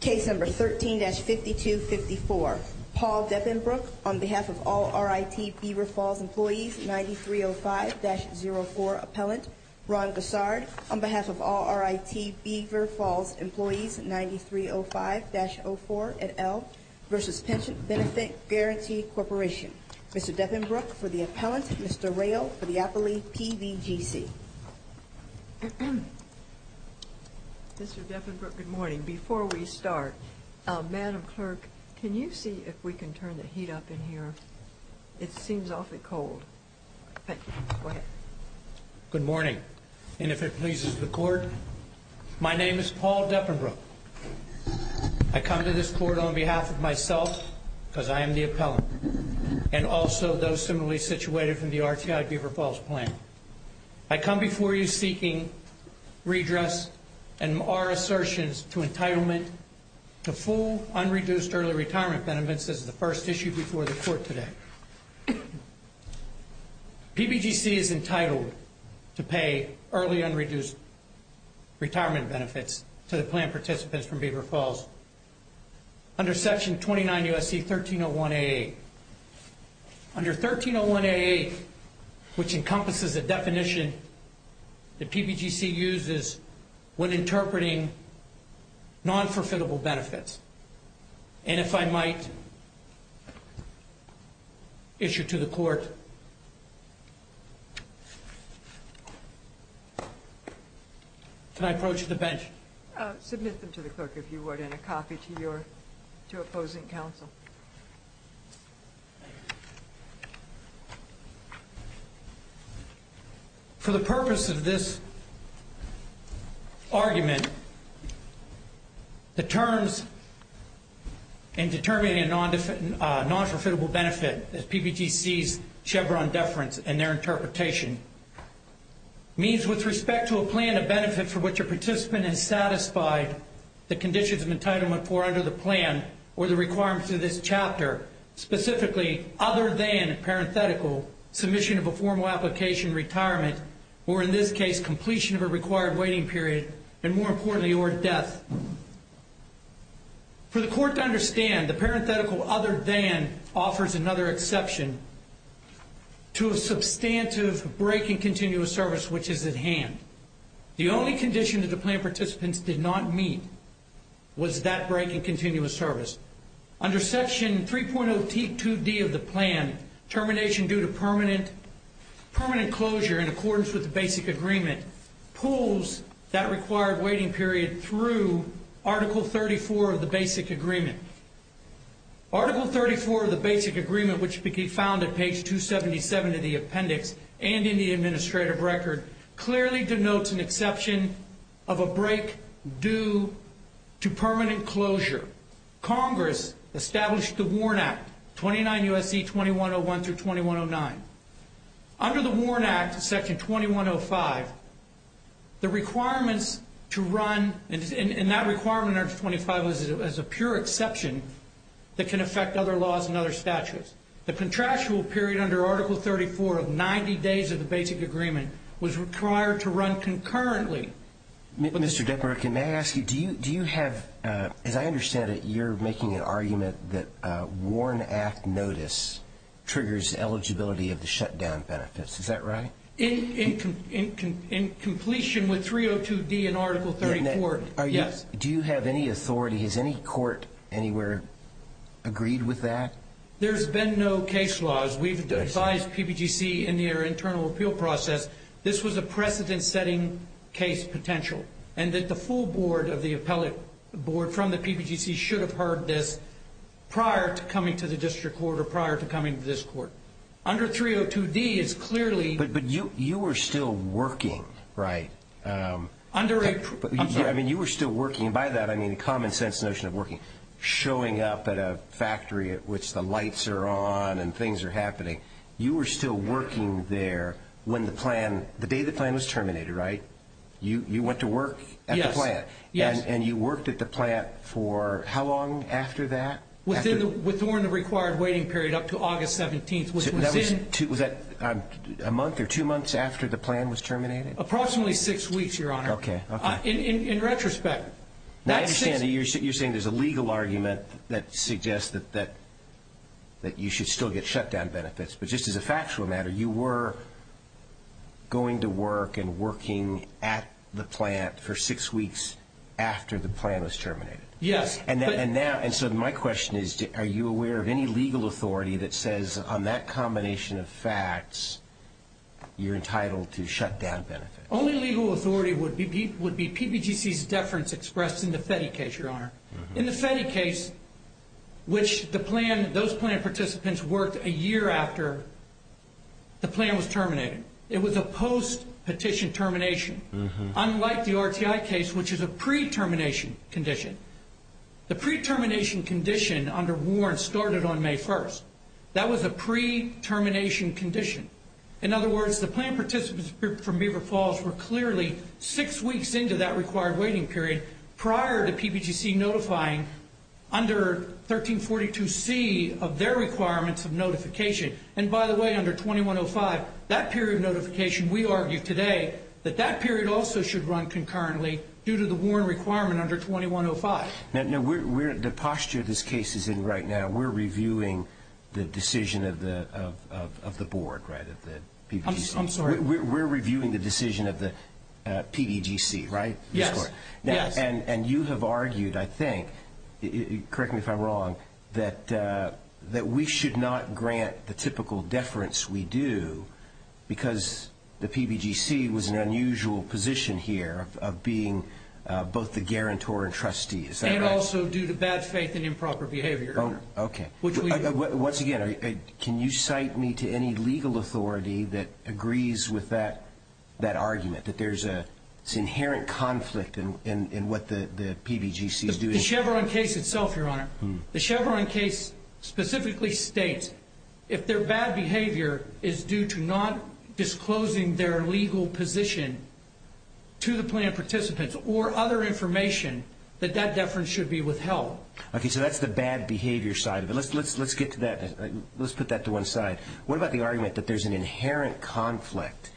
Case number 13-5254. Paul Deppenbrook on behalf of all RIT Beaver Falls employees 9305-04 appellant. Ron Gossard on behalf of all RIT Beaver Falls employees 9305-04 at L versus Pension Benefit Guarantee Corporation. Mr. Deppenbrook for the appellant, Mr. Rayl for the appellee PBGC. Mr. Deppenbrook, good morning. Before we start, Madam Clerk, can you see if we can turn the heat up in here? It seems awfully cold. Thank you. Go ahead. Good morning. And if it pleases the court, my name is Paul Deppenbrook. I come to this court on behalf of myself because I am the appellant and also those similarly situated from the RTI Beaver Falls plan. I come before you seeking redress and our assertions to entitlement to full unreduced early retirement benefits. This is the first issue before the court today. PBGC is entitled to pay early unreduced retirement benefits to the plan participants from Beaver Falls under Section 29 U.S.C. 1301 A.A. Under 1301 A.A., which encompasses a definition that PBGC uses when interpreting non-forfeitable benefits. And if I might issue to the court, can I approach the bench? Submit them to the clerk, if you would, and a copy to your opposing counsel. For the purpose of this argument, the terms in determining a non-forfeitable benefit, as PBGC's Chevron deference in their interpretation, means with respect to a plan of benefit for which a participant is satisfied, the conditions of entitlement for under the plan or the requirements of this chapter, specifically, other than, parenthetical, submission of a formal application, retirement, or in this case, completion of a required waiting period, and more importantly, or death. For the court to understand, the parenthetical other than offers another exception to a substantive break in continuous service which is at hand. The only condition that the plan participants did not meet was that break in continuous service. Under Section 3.0T2D of the plan, termination due to permanent closure in accordance with the Basic Agreement, pulls that required waiting period through Article 34 of the Basic Agreement. Article 34 of the Basic Agreement, which can be found at page 277 of the appendix and in the administrative record, clearly denotes an exception of a break due to permanent closure. Congress established the WARN Act, 29 U.S.C. 2101-2109. Under the WARN Act, Section 2105, the requirements to run, and that requirement under 2105 is a pure exception that can affect other laws and other statutes. The contractual period under Article 34 of 90 days of the Basic Agreement was required to run concurrently. Mr. Dickmer, can I ask you, do you have, as I understand it, you're making an argument that WARN Act notice triggers eligibility of the shutdown benefits, is that right? In completion with 302D and Article 34, yes. Do you have any authority, has any court anywhere agreed with that? There's been no case laws. We've advised PBGC in their internal appeal process, this was a precedent-setting case potential, and that the full board of the appellate board from the PBGC should have heard this prior to coming to the district court or prior to coming to this court. Under 302D, it's clearly... But you were still working, right? Under a... When the lights are on and things are happening, you were still working there when the plan, the day the plan was terminated, right? You went to work at the plant. Yes, yes. And you worked at the plant for how long after that? Within the, with WARN the required waiting period up to August 17th, which was in... Was that a month or two months after the plan was terminated? Approximately six weeks, Your Honor. Okay, okay. In retrospect... And I understand that you're saying there's a legal argument that suggests that you should still get shutdown benefits, but just as a factual matter, you were going to work and working at the plant for six weeks after the plan was terminated? Yes, but... And now, and so my question is, are you aware of any legal authority that says on that combination of facts you're entitled to shutdown benefits? Only legal authority would be PBGC's deference expressed in the FETI case, Your Honor. In the FETI case, which the plan, those plan participants worked a year after the plan was terminated. It was a post-petition termination. Unlike the RTI case, which is a pre-termination condition. The pre-termination condition under WARN started on May 1st. That was a pre-termination condition. In other words, the plan participants from Beaver Falls were clearly six weeks into that required waiting period prior to PBGC notifying under 1342C of their requirements of notification. And by the way, under 2105, that period of notification, we argue today, that that period also should run concurrently due to the WARN requirement under 2105. The posture this case is in right now, we're reviewing the decision of the board, right? I'm sorry? We're reviewing the decision of the PBGC, right? Yes. And you have argued, I think, correct me if I'm wrong, that we should not grant the typical deference we do because the PBGC was in an unusual position here of being both the guarantor and trustee. And also due to bad faith and improper behavior. Okay. Once again, can you cite me to any legal authority that agrees with that argument, that there's an inherent conflict in what the PBGC is doing? In the Chevron case itself, Your Honor, the Chevron case specifically states if their bad behavior is due to not disclosing their legal position to the plan participants or other information, that that deference should be withheld. Okay, so that's the bad behavior side of it. Let's get to that. Let's put that to one side. What about the argument that there's an inherent conflict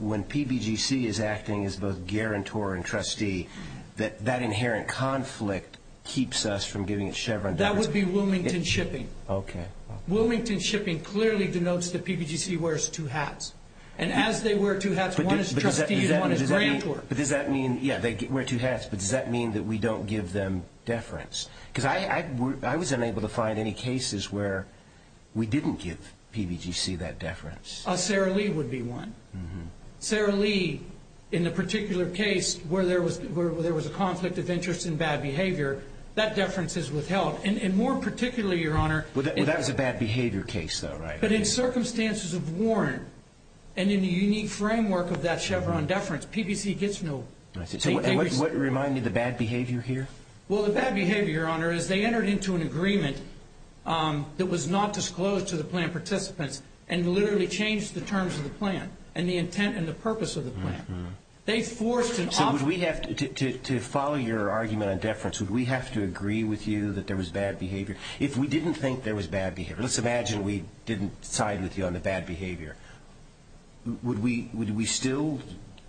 when PBGC is acting as both guarantor and trustee, that that inherent conflict keeps us from giving it Chevron deference? That would be Wilmington Shipping. Okay. Wilmington Shipping clearly denotes that PBGC wears two hats. And as they wear two hats, one is trustee and one is guarantor. But does that mean, yeah, they wear two hats, but does that mean that we don't give them deference? Because I was unable to find any cases where we didn't give PBGC that deference. Sarah Lee would be one. Sarah Lee, in the particular case where there was a conflict of interest in bad behavior, that deference is withheld. And more particularly, Your Honor— Well, that was a bad behavior case, though, right? But in circumstances of warrant and in the unique framework of that Chevron deference, PBGC gets no— And what reminded the bad behavior here? Well, the bad behavior, Your Honor, is they entered into an agreement that was not disclosed to the plan participants and literally changed the terms of the plan and the intent and the purpose of the plan. They forced an offer— So would we have to—to follow your argument on deference, would we have to agree with you that there was bad behavior? If we didn't think there was bad behavior, let's imagine we didn't side with you on the bad behavior, would we still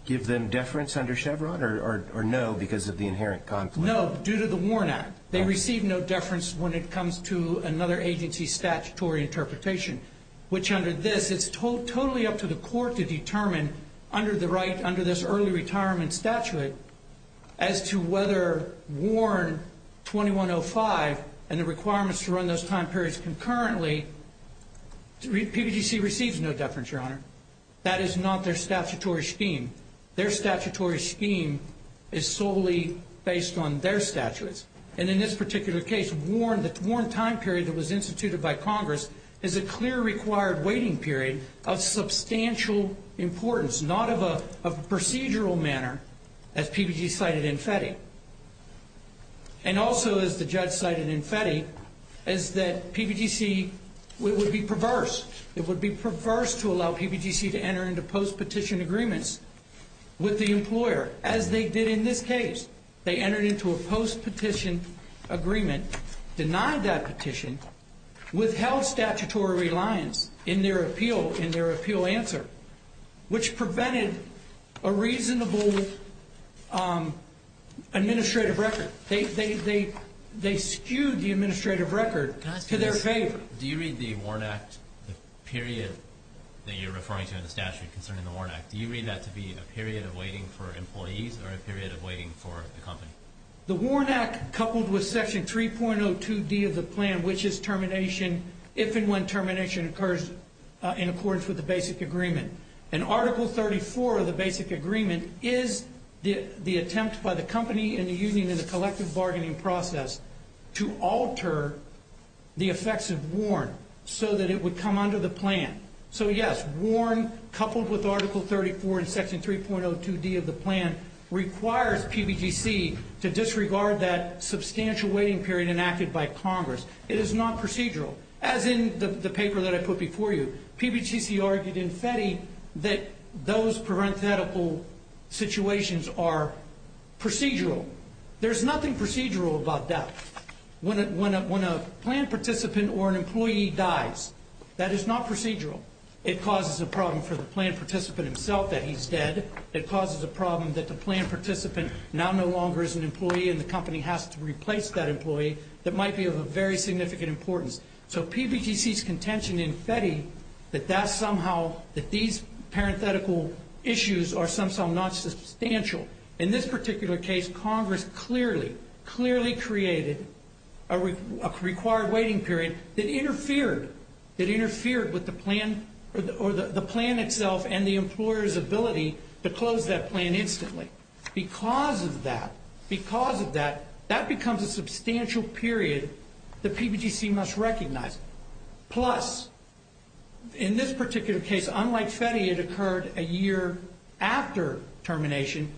give them deference under Chevron or no because of the inherent conflict? No, due to the WARN Act. They receive no deference when it comes to another agency's statutory interpretation, which under this, it's totally up to the court to determine under this early retirement statute as to whether WARN 2105 and the requirements to run those time periods concurrently— PBGC receives no deference, Your Honor. That is not their statutory scheme. Their statutory scheme is solely based on their statutes. And in this particular case, WARN, the WARN time period that was instituted by Congress, is a clear required waiting period of substantial importance, not of a procedural manner, as PBGC cited in FETI. And also, as the judge cited in FETI, is that PBGC would be perverse. It would be perverse to allow PBGC to enter into post-petition agreements with the employer, as they did in this case. They entered into a post-petition agreement, denied that petition, withheld statutory reliance in their appeal answer, which prevented a reasonable administrative record. They skewed the administrative record to their favor. Do you read the WARN Act, the period that you're referring to in the statute concerning the WARN Act, do you read that to be a period of waiting for employees or a period of waiting for the company? The WARN Act, coupled with Section 3.02d of the plan, which is termination, if and when termination occurs in accordance with the basic agreement, and Article 34 of the basic agreement is the attempt by the company and the union and the collective bargaining process to alter the effects of WARN so that it would come under the plan. So, yes, WARN, coupled with Article 34 and Section 3.02d of the plan, requires PBGC to disregard that substantial waiting period enacted by Congress. It is not procedural. As in the paper that I put before you, PBGC argued in FETI that those parenthetical situations are procedural. There's nothing procedural about that. When a plan participant or an employee dies, that is not procedural. It causes a problem for the plan participant himself that he's dead. It causes a problem that the plan participant now no longer is an employee and the company has to replace that employee that might be of a very significant importance. So PBGC's contention in FETI that that's somehow, that these parenthetical issues are somehow not substantial. In this particular case, Congress clearly, clearly created a required waiting period that interfered, that interfered with the plan or the plan itself and the employer's ability to close that plan instantly. Because of that, because of that, that becomes a substantial period that PBGC must recognize. Plus, in this particular case, unlike FETI, it occurred a year after termination.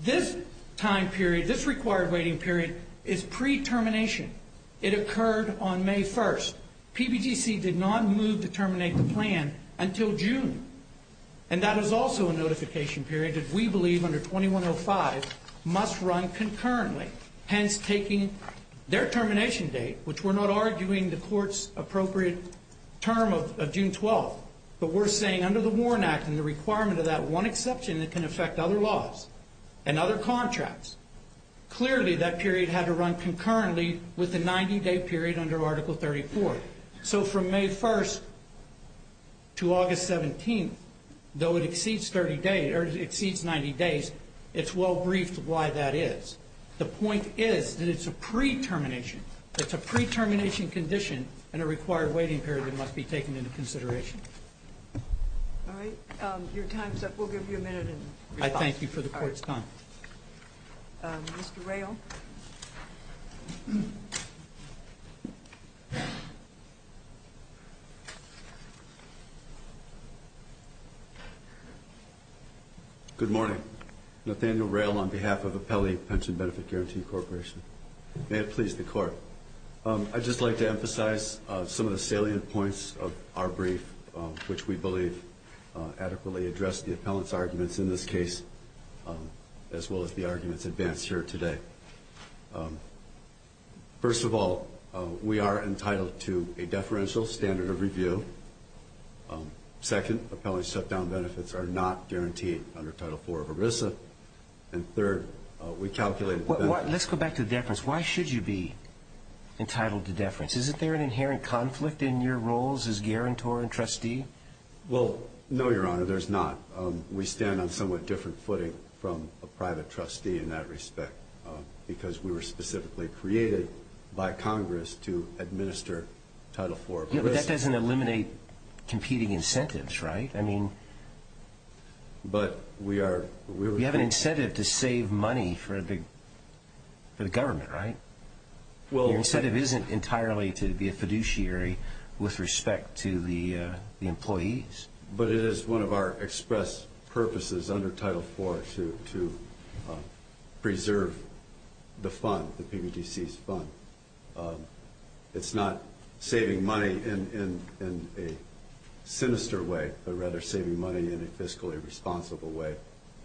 This time period, this required waiting period is pre-termination. It occurred on May 1st. PBGC did not move to terminate the plan until June. And that is also a notification period that we believe under 2105 must run concurrently, hence taking their termination date, which we're not arguing the court's appropriate term of June 12th, but we're saying under the Warren Act and the requirement of that one exception that can affect other laws and other contracts, clearly that period had to run concurrently with the 90-day period under Article 34. So from May 1st to August 17th, though it exceeds 90 days, it's well briefed why that is. The point is that it's a pre-termination. It's a pre-termination condition and a required waiting period that must be taken into consideration. All right. Your time's up. We'll give you a minute in response. I thank you for the court's time. Mr. Rayl. Good morning. Nathaniel Rayl on behalf of Appellee Pension Benefit Guarantee Corporation. May it please the court. I'd just like to emphasize some of the salient points of our brief, which we believe adequately address the appellant's arguments in this case as well as the arguments advanced here today. First of all, we are entitled to a deferential standard of review. Second, appellant shutdown benefits are not guaranteed under Title IV of ERISA. And third, we calculated the benefits. Let's go back to deference. Why should you be entitled to deference? Isn't there an inherent conflict in your roles as guarantor and trustee? Well, no, Your Honor, there's not. We stand on somewhat different footing from a private trustee in that respect because we were specifically created by Congress to administer Title IV of ERISA. But that doesn't eliminate competing incentives, right? I mean, we have an incentive to save money for the government, right? Your incentive isn't entirely to be a fiduciary with respect to the employees. But it is one of our express purposes under Title IV to preserve the fund, the PBDC's fund. It's not saving money in a sinister way, but rather saving money in a fiscally responsible way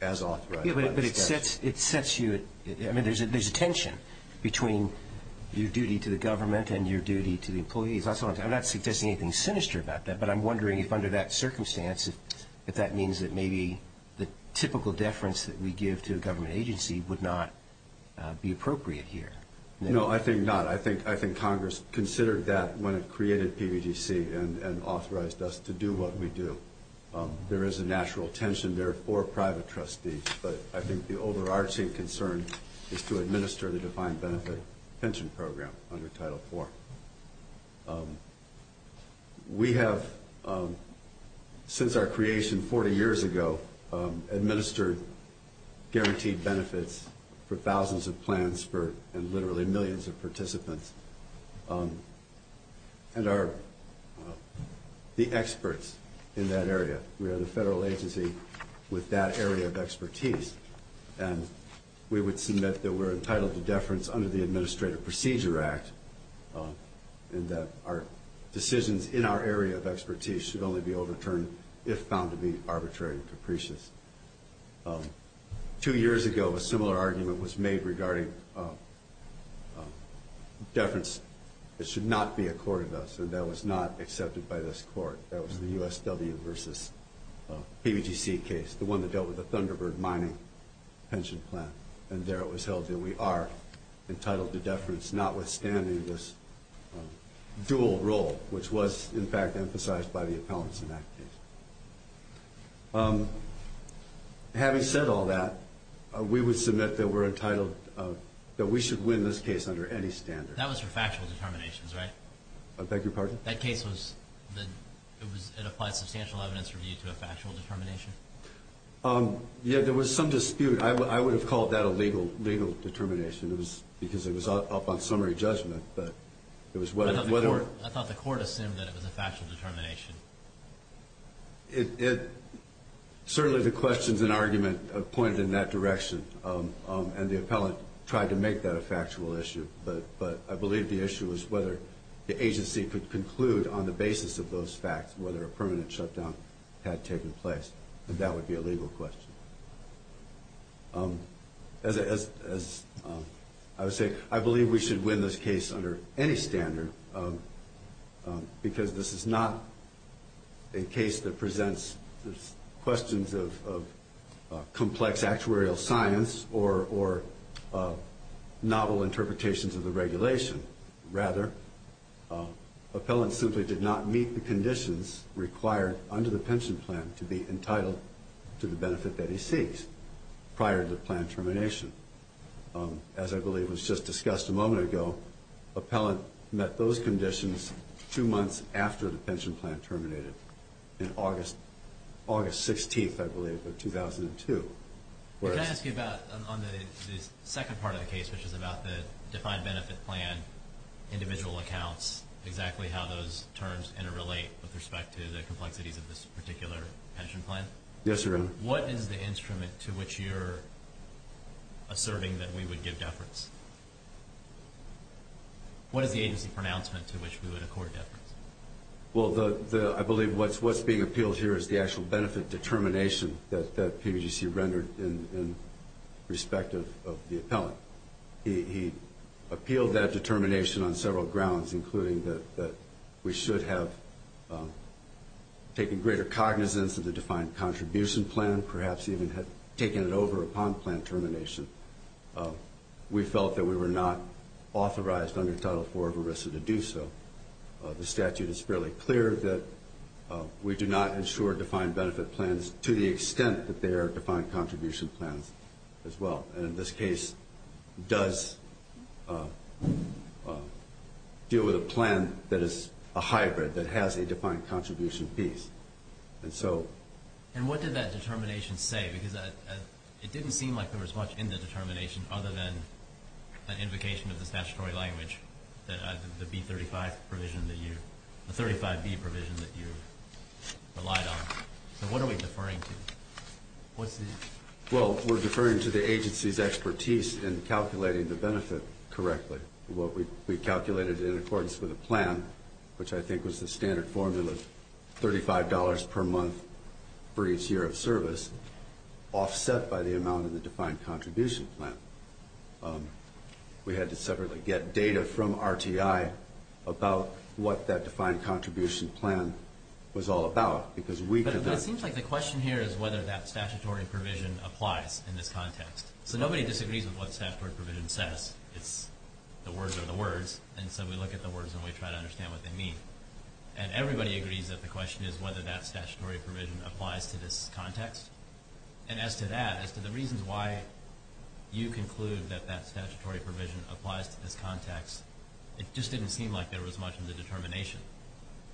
as authorized by the statute. Yeah, but it sets you at – I mean, there's a tension between your duty to the government and your duty to the employees. I'm not suggesting anything sinister about that, but I'm wondering if under that circumstance, if that means that maybe the typical deference that we give to a government agency would not be appropriate here. No, I think not. I think Congress considered that when it created PBDC and authorized us to do what we do. There is a natural tension there for private trustees, but I think the overarching concern is to administer the defined benefit pension program under Title IV. We have, since our creation 40 years ago, administered guaranteed benefits for thousands of plans and literally millions of participants and are the experts in that area. We are the federal agency with that area of expertise, and we would submit that we're entitled to deference under the Administrative Procedure Act and that our decisions in our area of expertise should only be overturned if found to be arbitrary and capricious. Two years ago, a similar argument was made regarding deference. It should not be accorded us, and that was not accepted by this Court. That was the USW versus PBDC case, the one that dealt with the Thunderbird mining pension plan, and there it was held that we are entitled to deference notwithstanding this dual role, which was, in fact, emphasized by the Appellants' Enactment case. Having said all that, we would submit that we should win this case under any standard. That was for factual determinations, right? I beg your pardon? That case was an applied substantial evidence review to a factual determination? Yes, there was some dispute. I would have called that a legal determination because it was up on summary judgment. I thought the Court assumed that it was a factual determination. Certainly the questions and argument pointed in that direction, and the Appellant tried to make that a factual issue, but I believe the issue was whether the agency could conclude on the basis of those facts whether a permanent shutdown had taken place, and that would be a legal question. As I would say, I believe we should win this case under any standard because this is not a case that presents questions of complex actuarial science or novel interpretations of the regulation. Rather, Appellants simply did not meet the conditions required under the pension plan to be entitled to the benefit that he seeks prior to the plan termination. As I believe was just discussed a moment ago, Appellant met those conditions two months after the pension plan terminated, in August 16th, I believe, of 2002. Can I ask you about the second part of the case, which is about the defined benefit plan individual accounts, and that's exactly how those terms interrelate with respect to the complexities of this particular pension plan? Yes, Your Honor. What is the instrument to which you're asserting that we would give deference? What is the agency pronouncement to which we would accord deference? Well, I believe what's being appealed here is the actual benefit determination that PBGC rendered in respect of the Appellant. He appealed that determination on several grounds, including that we should have taken greater cognizance of the defined contribution plan, perhaps even had taken it over upon plan termination. We felt that we were not authorized under Title IV of ERISA to do so. The statute is fairly clear that we do not ensure defined benefit plans to the extent that they are defined contribution plans as well. And in this case, does deal with a plan that is a hybrid, that has a defined contribution piece. And what did that determination say? Because it didn't seem like there was much in the determination other than an invocation of the statutory language, the 35B provision that you relied on. So what are we deferring to? Well, we're deferring to the agency's expertise in calculating the benefit correctly. What we calculated in accordance with the plan, which I think was the standard formula, $35 per month for each year of service, offset by the amount of the defined contribution plan. We had to separately get data from RTI about what that defined contribution plan was all about. But it seems like the question here is whether that statutory provision applies in this context. So nobody disagrees with what the statutory provision says. It's the words are the words. And so we look at the words and we try to understand what they mean. And everybody agrees that the question is whether that statutory provision applies to this context. And as to that, as to the reasons why you conclude that that statutory provision applies to this context, it just didn't seem like there was much in the determination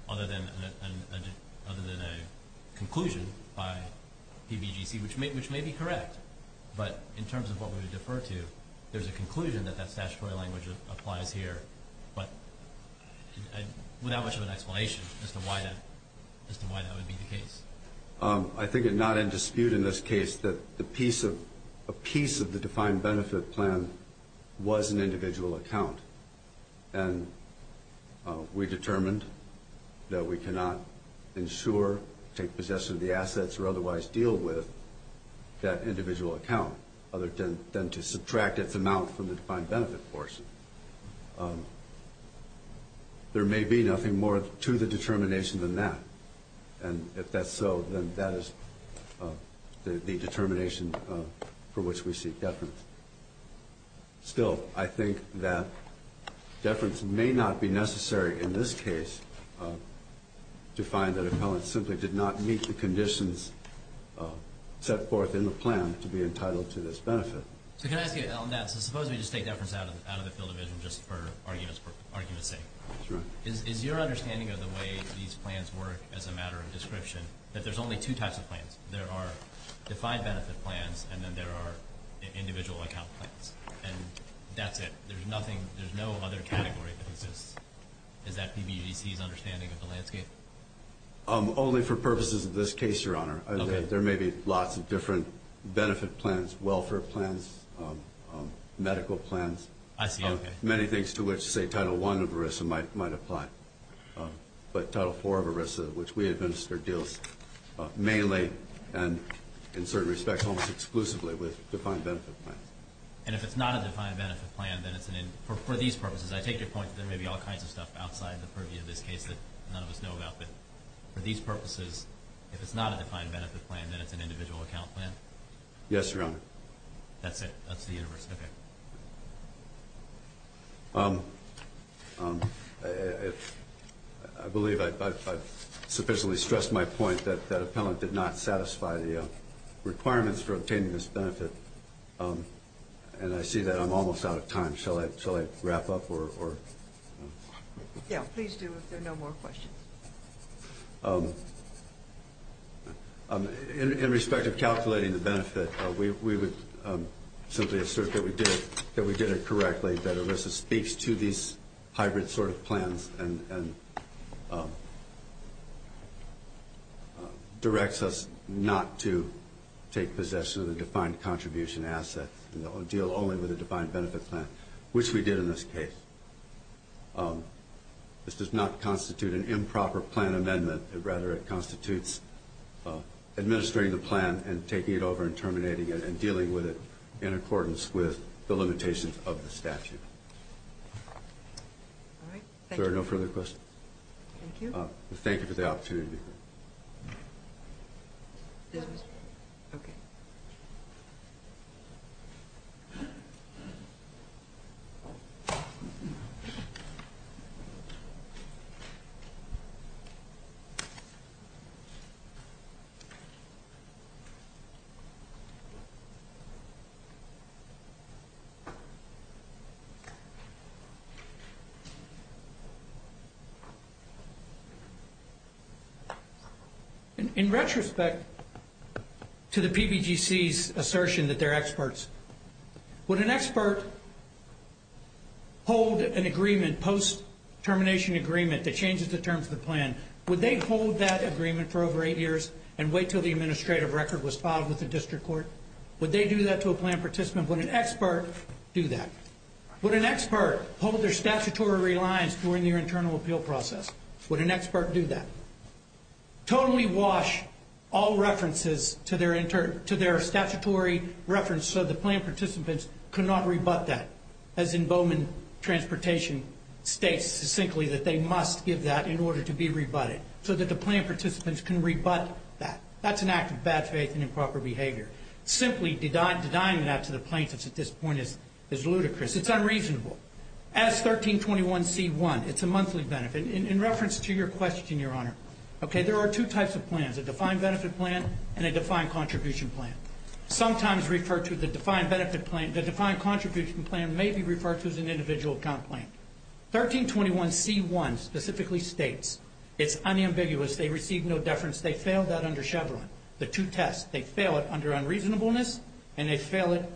other than a conclusion by PBGC, which may be correct. But in terms of what we would defer to, there's a conclusion that that statutory language applies here, but without much of an explanation as to why that would be the case. I think it's not in dispute in this case that a piece of the defined benefit plan was an individual account. And we determined that we cannot insure, take possession of the assets, or otherwise deal with that individual account other than to subtract its amount from the defined benefit portion. There may be nothing more to the determination than that. And if that's so, then that is the determination for which we seek deference. Still, I think that deference may not be necessary in this case to find that a felon simply did not meet the conditions set forth in the plan to be entitled to this benefit. So can I ask you on that? So suppose we just take deference out of the field of vision just for argument's sake. That's right. Is your understanding of the way these plans work as a matter of description that there's only two types of plans? There are defined benefit plans, and then there are individual account plans. And that's it. There's no other category that exists. Is that PBGC's understanding of the landscape? Only for purposes of this case, Your Honor. Okay. There may be lots of different benefit plans, welfare plans, medical plans. I see. Okay. Title I of ERISA might apply. But Title IV of ERISA, which we administer, deals mainly and, in certain respects, almost exclusively with defined benefit plans. And if it's not a defined benefit plan, then it's an individual account plan? For these purposes, I take your point that there may be all kinds of stuff outside the purview of this case that none of us know about. But for these purposes, if it's not a defined benefit plan, then it's an individual account plan? Yes, Your Honor. That's it. That's the universe. Okay. I believe I've sufficiently stressed my point that appellant did not satisfy the requirements for obtaining this benefit. And I see that I'm almost out of time. Shall I wrap up? Yeah, please do, if there are no more questions. Okay. In respect of calculating the benefit, we would simply assert that we did it correctly, that ERISA speaks to these hybrid sort of plans and directs us not to take possession of the defined contribution asset and deal only with a defined benefit plan, which we did in this case. This does not constitute an improper plan amendment. Rather, it constitutes administering the plan and taking it over and terminating it and dealing with it in accordance with the limitations of the statute. All right. Thank you. If there are no further questions. Thank you. Thank you for the opportunity. Yes, Mr. Chairman. Okay. Okay. In retrospect to the PBGC's assertion that they're experts, would an expert hold an agreement, post-termination agreement that changes the terms of the plan, would they hold that agreement for over eight years and wait until the administrative record was filed with the district court? Would they do that to a plan participant? Would an expert do that? Would an expert hold their statutory reliance during their internal appeal process? Would an expert do that? Totally wash all references to their statutory reference so the plan participants could not rebut that, as in Bowman Transportation states succinctly that they must give that in order to be rebutted, so that the plan participants can rebut that. That's an act of bad faith and improper behavior. Simply denying that to the plaintiffs at this point is ludicrous. It's unreasonable. As 1321C1, it's a monthly benefit. In reference to your question, Your Honor, okay, there are two types of plans, a defined benefit plan and a defined contribution plan. Sometimes referred to the defined benefit plan, the defined contribution plan may be referred to as an individual complaint. 1321C1 specifically states it's unambiguous. They receive no deference. They fail that under Chevron, the two tests. They fail it under unreasonableness and they fail it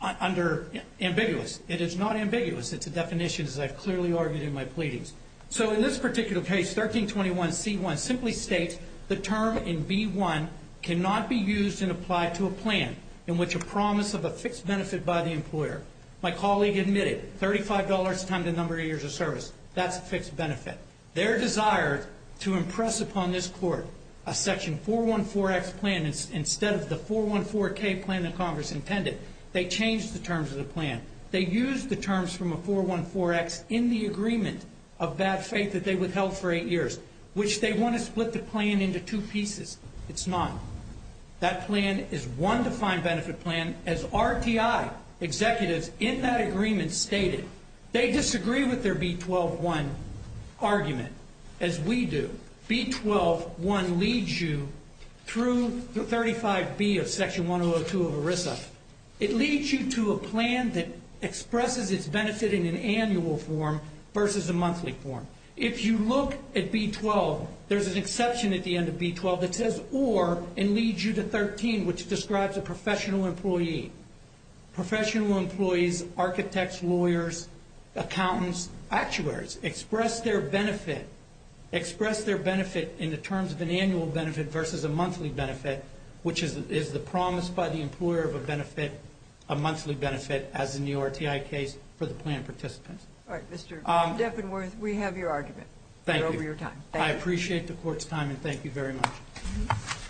under ambiguous. It is not ambiguous. It's a definition, as I've clearly argued in my pleadings. So in this particular case, 1321C1 simply states the term in B1 cannot be used and applied to a plan in which a promise of a fixed benefit by the employer. My colleague admitted $35 times the number of years of service. That's a fixed benefit. Their desire to impress upon this Court a section 414X plan instead of the 414K plan that Congress intended, they changed the terms of the plan. They used the terms from a 414X in the agreement of bad faith that they withheld for eight years, which they want to split the plan into two pieces. It's not. That plan is one defined benefit plan, as RTI executives in that agreement stated. They disagree with their B12-1 argument, as we do. B12-1 leads you through 35B of Section 102 of ERISA. It leads you to a plan that expresses its benefit in an annual form versus a monthly form. If you look at B12, there's an exception at the end of B12 that says or and leads you to 13, which describes a professional employee. Professional employees, architects, lawyers, accountants, actuaries express their benefit, express their benefit in the terms of an annual benefit versus a monthly benefit, which is the promise by the employer of a benefit, a monthly benefit, as in the RTI case, for the plan participants. All right, Mr. Deffenworth, we have your argument. Thank you. We're over your time. I appreciate the Court's time, and thank you very much.